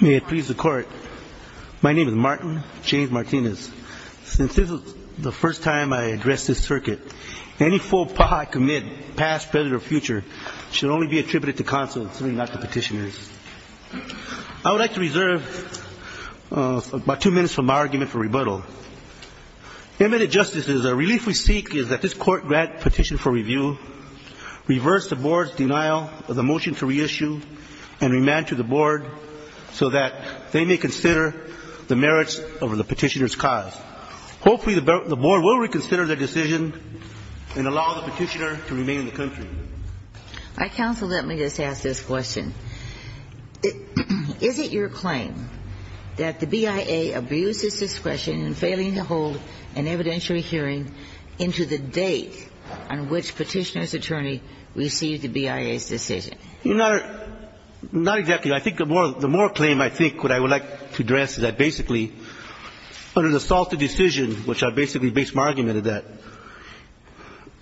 May it please the Court. My name is Martin James Martinez. Since this is the first time I address this circuit, any faux pas I commit, past, present, or future, should only be attributed to counsel, certainly not to petitioners. I would like to reserve about two minutes from my argument for rebuttal. Eminent justices, a relief we seek is that this Court grant petition for review, reverse the Board's denial of the motion to reissue, and remand to the Board so that they may consider the merits of the petitioner's cause. Hopefully the Board will reconsider their decision and allow the petitioner to remain in the country. My counsel, let me just ask this question. Is it your claim that the BIA abuses discretion in failing to hold an evidentiary hearing into the date on which petitioner's attorney received the BIA's decision? You know, not exactly. I think the more the more claim I think what I would like to address is that basically under the salted decision, which I basically base my argument on that,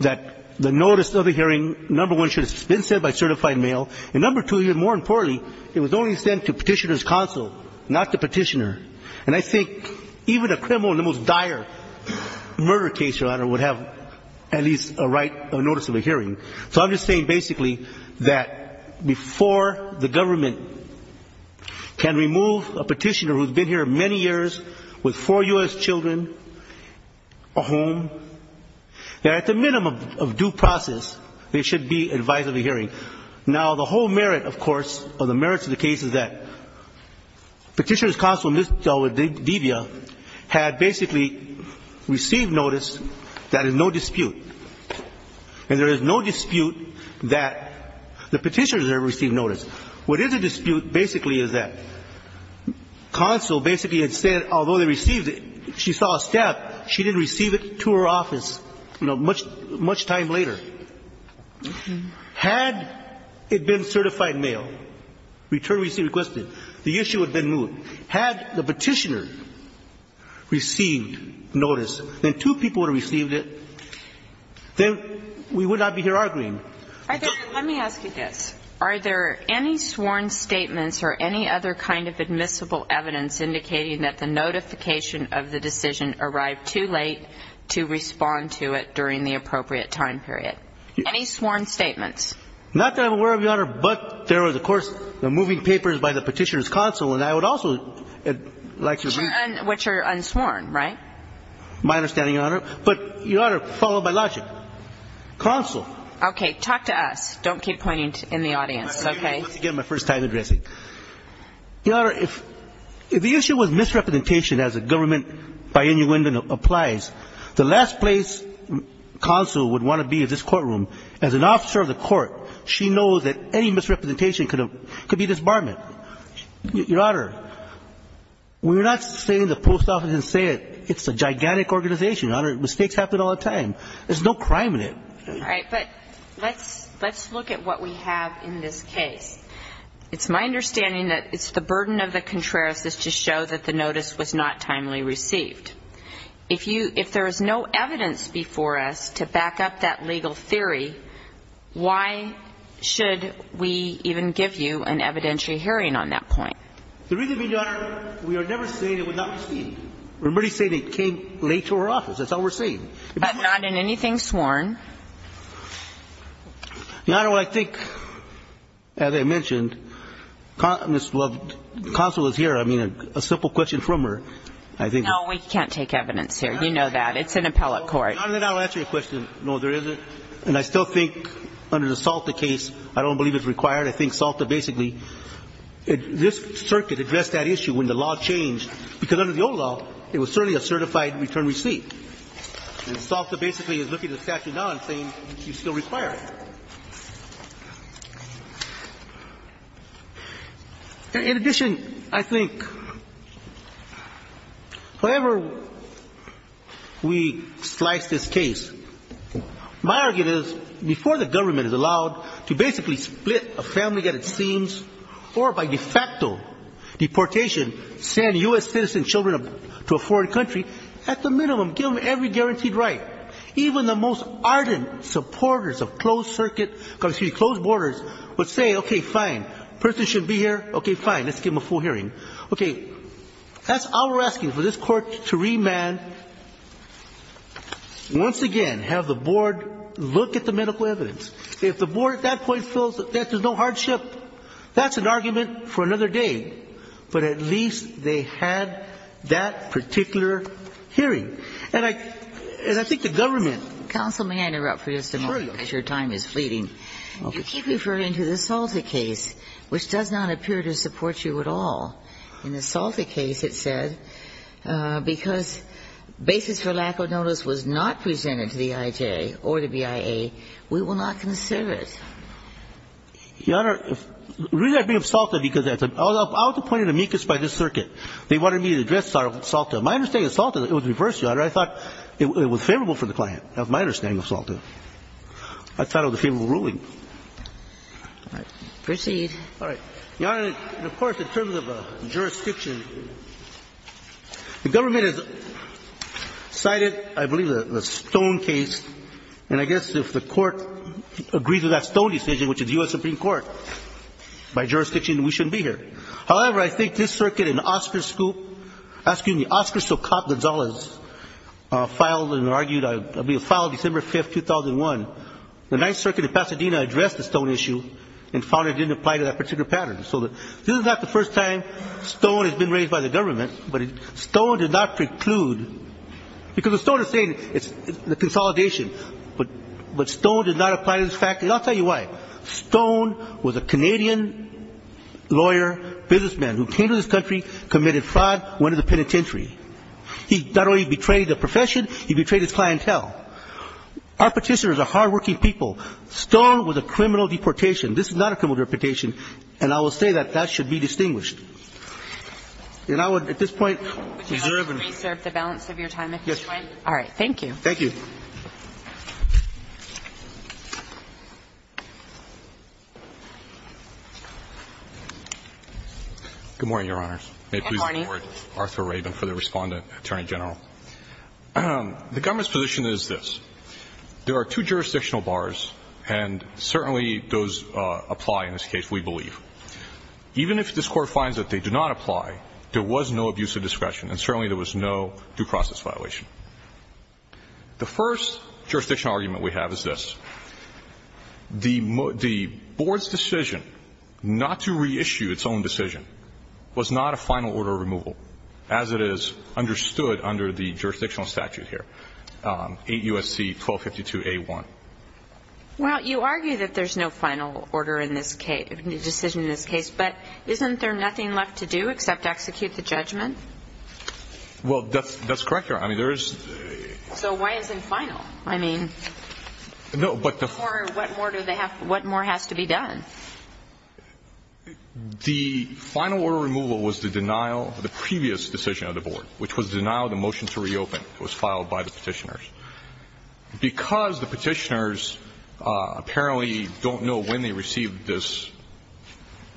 that the notice of the hearing, number one, should have been sent by certified mail, and number two, more importantly, it was only sent to petitioner's counsel, not the petitioner. And I think even a criminal in the most dire murder case, your Honor, would have at least a right notice of a hearing. So I'm just saying basically that before the government can remove a petitioner who's been here many years with four U.S. children, a home, that at the minimum of due process, they should be advised of a hearing. Now, the whole merit, of course, or the merits of the case is that petitioner's counsel, Ms. DeVia, had basically received notice that is no dispute. And there is no dispute that the petitioner has received notice. What is a dispute basically is that counsel basically had said, although they received it, she saw a step, she didn't receive it to her office, you know, much time later. Had it been certified mail, return received, requested, the issue would have been moved. Had the petitioner received notice, then two people would have received it, then we would not be here arguing. Are there, let me ask you this, are there any sworn statements or any other kind of admissible evidence indicating that the notification of the decision arrived too late to respond to it during the appropriate time period? Any sworn statements? Not that I'm aware of, Your Honor, but there was, of course, the moving papers by the petitioner's counsel, and I would also like to be. Which are unsworn, right? My understanding, Your Honor. But, Your Honor, followed by logic. Counsel. Okay, talk to us. Don't keep pointing in the audience, okay? Let me get my first time addressing. Your Honor, if the issue was misrepresentation as a government by any window applies, the last place counsel would want to be is this courtroom. As an officer of the court, she knows that any misrepresentation could be disbarment. Your Honor, we're not saying the post office didn't say it. It's a gigantic organization, Your Honor. Mistakes happen all the time. There's no crime in it. All right. But let's look at what we have in this case. It's my understanding that it's the burden of the contrariousness to show that the notice was not timely received. If there is no evidence before us to back up that legal theory, why should we even give you an evidentiary hearing on that point? The reason being, Your Honor, we are never saying it was not received. We're merely saying it came late to our office. That's all we're saying. But not in anything sworn? Your Honor, I think, as I mentioned, counsel is here. I mean, a simple question from her. No, we can't take evidence here. You know that. It's an appellate court. Your Honor, then I'll answer your question. No, there isn't. And I still think under the Salta case, I don't believe it's required. I think Salta basically, this circuit addressed that issue when the law changed, because under the old law, it was certainly a certified return receipt. And Salta basically is looking at the statute now and saying you still require it. In addition, I think however we slice this case, my argument is before the government is allowed to basically split a family at its seams or by de facto deportation, send U.S. citizen children to a foreign country, at the minimum, give them every guaranteed right. Even the most ardent supporters of closed borders would say, OK, fine, person should be here. OK, fine, let's give them a full hearing. OK, that's our asking for this court to remand. Once again, have the board look at the medical evidence. If the board at that point feels that there's no hardship, that's an argument for another day. But at least they had that particular hearing. And I think the government. Counsel, may I interrupt for just a moment? Sure, Your Honor. Because your time is fleeting. You keep referring to the Salta case, which does not appear to support you at all. In the Salta case, it said, because basis for lack of notice was not presented to the IJ or the BIA, we will not consider it. Your Honor, the reason I bring up Salta, because I was appointed amicus by this circuit. They wanted me to address Salta. My understanding of Salta, it was reversed, Your Honor. I thought it was favorable for the client. That was my understanding of Salta. I thought it was a favorable ruling. Proceed. All right. Your Honor, of course, in terms of jurisdiction, the government has cited, I believe, the Stone case. And I guess if the court agrees with that Stone decision, which is U.S. Supreme Court, by jurisdiction, we shouldn't be here. However, I think this circuit in Oscar Scoop, asking the Oscar Socop Gonzalez, filed and argued, filed December 5, 2001. The Ninth Circuit of Pasadena addressed the Stone issue and found it didn't apply to that particular pattern. So this is not the first time Stone has been raised by the government, but Stone did not preclude. Because the Stone is saying it's the consolidation, but Stone did not apply to this fact. And I'll tell you why. Stone was a Canadian lawyer, businessman who came to this country, committed fraud, went to the penitentiary. He not only betrayed the profession, he betrayed his clientele. Our Petitioners are hardworking people. Stone was a criminal deportation. This is not a criminal deportation. And I will say that that should be distinguished. And I would at this point reserve and reserve the balance of your time, if you'd like. All right. Thank you. Thank you. Good morning, Your Honor. Good morning. May it please the Court, Arthur Rabin for the Respondent, Attorney General. The government's position is this. There are two jurisdictional bars, and certainly those apply in this case, we believe. Even if this Court finds that they do not apply, there was no abuse of discretion and certainly there was no due process violation. The first jurisdictional argument we have is this. The board's decision not to reissue its own decision was not a final order of removal, as it is understood under the jurisdictional statute here, 8 U.S.C. 1252A1. Well, you argue that there's no final order in this case, decision in this case, but isn't there nothing left to do except execute the judgment? Well, that's correct, Your Honor. I mean, there is. So why isn't it final? I mean, what more has to be done? The final order of removal was the denial of the previous decision of the board, which was denial of the motion to reopen. It was filed by the Petitioners. Because the Petitioners apparently don't know when they received this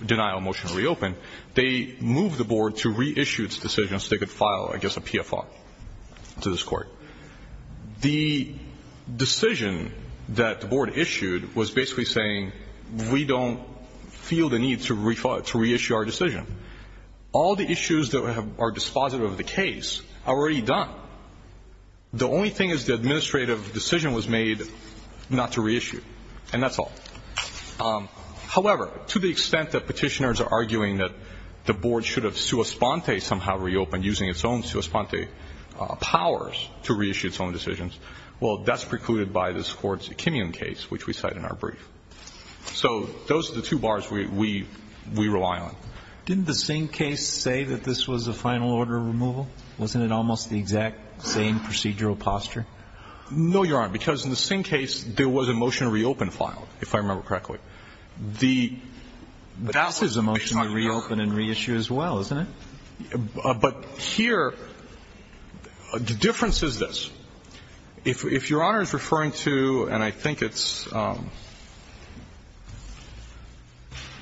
denial of motion to reopen, they moved the board to reissue its decision so they could file, I guess, a PFR to this Court. The decision that the board issued was basically saying we don't feel the need to reissue our decision. All the issues that are dispositive of the case are already done. The only thing is the administrative decision was made not to reissue, and that's all. However, to the extent that Petitioners are arguing that the board should have reopened using its own powers to reissue its own decisions, well, that's precluded by this Court's Kinnian case, which we cite in our brief. So those are the two bars we rely on. Didn't the Singh case say that this was a final order of removal? Wasn't it almost the exact same procedural posture? No, Your Honor, because in the Singh case, there was a motion to reopen filed, if I remember correctly. But this is a motion to reopen and reissue as well, isn't it? But here, the difference is this. If Your Honor is referring to, and I think it's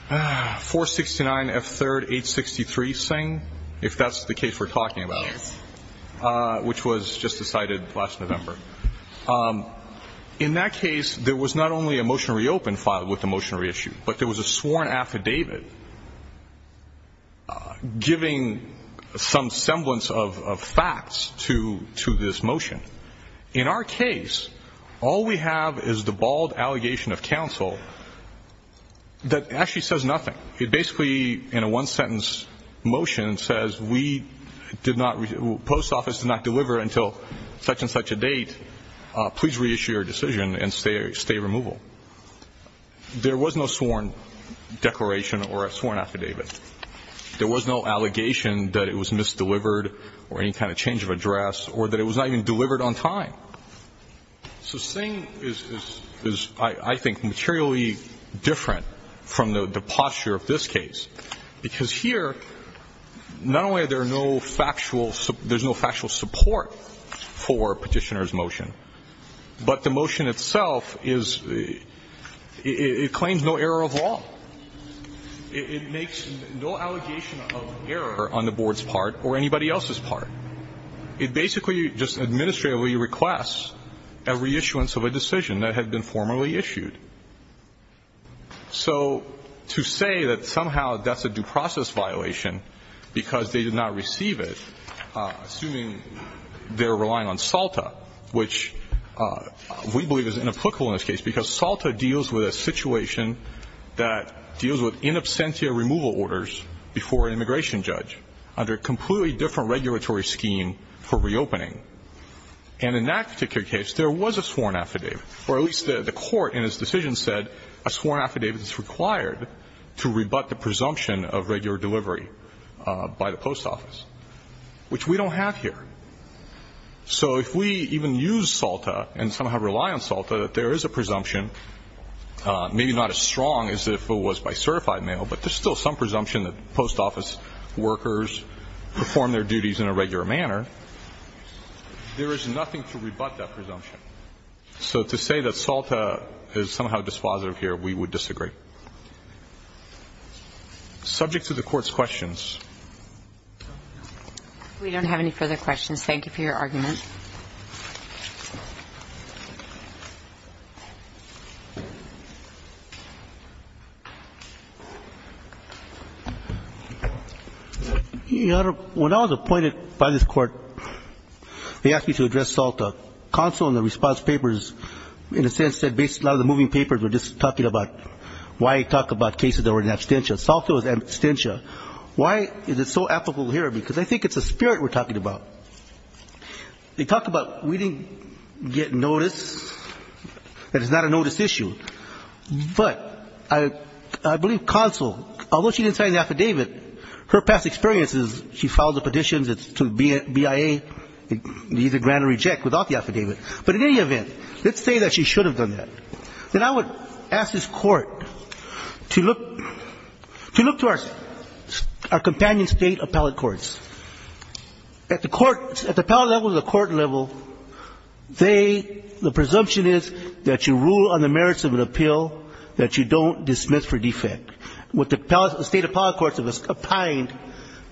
469 F3rd 863 Singh, if that's the case we're talking about, which was just decided last November, in that case, there was not only a motion to reopen filed with a motion to reissue, but there was a sworn affidavit giving some semblance of facts to this motion. In our case, all we have is the bald allegation of counsel that actually says nothing. It basically, in a one-sentence motion, says we did not, the post office did not deliver until such and such a date, please reissue your decision and stay removal. There was no sworn declaration or a sworn affidavit. There was no allegation that it was misdelivered or any kind of change of address or that it was not even delivered on time. So Singh is, I think, materially different from the posture of this case, because here, not only are there no factual, there's no factual support for Petitioner's motion, but the motion itself is, it claims no error of law. It makes no allegation of error on the Board's part or anybody else's part. It basically just administratively requests a reissuance of a decision that had been formerly issued. So to say that somehow that's a due process violation because they did not receive it, assuming they're relying on SALTA, which we believe is inapplicable in this case, because SALTA deals with a situation that deals with in absentia removal orders before an immigration judge under a completely different regulatory scheme for reopening. And in that particular case, there was a sworn affidavit, or at least the court in his decision said a sworn affidavit is required to rebut the presumption of regular delivery by the post office, which we don't have here. So if we even use SALTA and somehow rely on SALTA, that there is a presumption, maybe not as strong as if it was by certified mail, but there's still some presumption that post office workers perform their duties in a regular manner, there is nothing to rebut that presumption. So to say that SALTA is somehow dispositive here, we would disagree. Subject to the Court's questions. We don't have any further questions. Thank you for your argument. Your Honor, when I was appointed by this Court, they asked me to address SALTA. Counsel in the response papers, in a sense, said a lot of the moving papers were just talking about why talk about cases that were in absentia. SALTA was in absentia. Why is it so applicable here? Because I think it's the spirit we're talking about. They talk about we didn't get notice, that it's not a notice issue. But I believe counsel, although she didn't sign the affidavit, her past experience is she filed the petitions to the BIA, either grant or reject without the affidavit. But in any event, let's say that she should have done that. Then I would ask this Court to look to our companion State appellate courts. At the court, at the appellate level or the court level, they, the presumption is that you rule on the merits of an appeal, that you don't dismiss for defect. What the State appellate courts have opined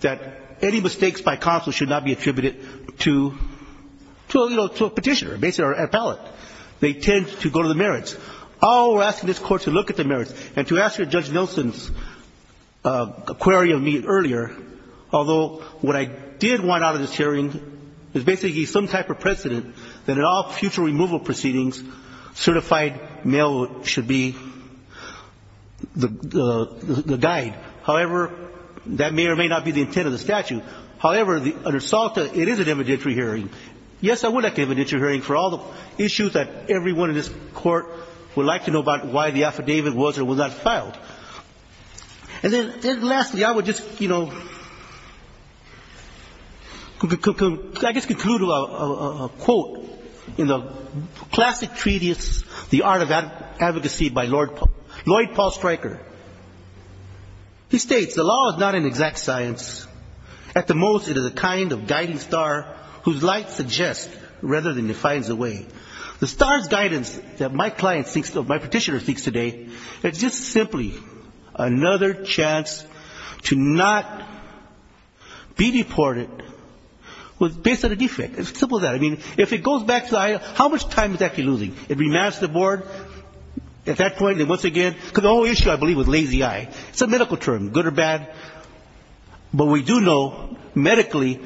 that any mistakes by counsel should not be attributed to a petitioner, basically an appellate. They tend to go to the merits. I will ask this Court to look at the merits and to ask Judge Nielsen's query of me earlier, although what I did want out of this hearing is basically some type of precedent that in all future removal proceedings, certified mail should be the guide. However, that may or may not be the intent of the statute. However, under SALTA, it is an evidentiary hearing. Yes, I would like an evidentiary hearing for all the issues that everyone in this court would like to know about why the affidavit was or was not filed. And then lastly, I would just, you know, I guess conclude with a quote in the classic treatise, The Art of Advocacy by Lloyd Paul Stryker. He states, the law is not an exact science. At the most, it is a kind of guiding star whose light suggests rather than defines the way. The star's guidance that my client thinks, my petitioner thinks today is just simply another chance to not be deported based on a defect. It's as simple as that. I mean, if it goes back to the eye, how much time is it actually losing? It remasters the board at that point, and once again, because the whole issue, I believe, was lazy eye. It's a medical term, good or bad. But we do know medically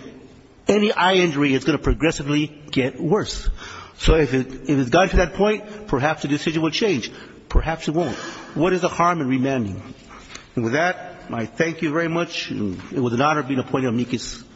any eye injury is going to progressively get worse. So if it has gotten to that point, perhaps the decision will change. Perhaps it won't. But what is the harm in remanding? And with that, I thank you very much. It was an honor being appointed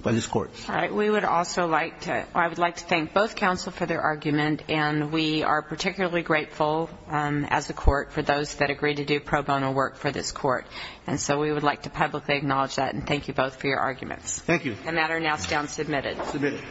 by this court. All right. We would also like to, I would like to thank both counsel for their argument, and we are particularly grateful as a court for those that agreed to do pro bono work for this court. And so we would like to publicly acknowledge that, and thank you both for your arguments. Thank you. And that is now submitted. Submitted.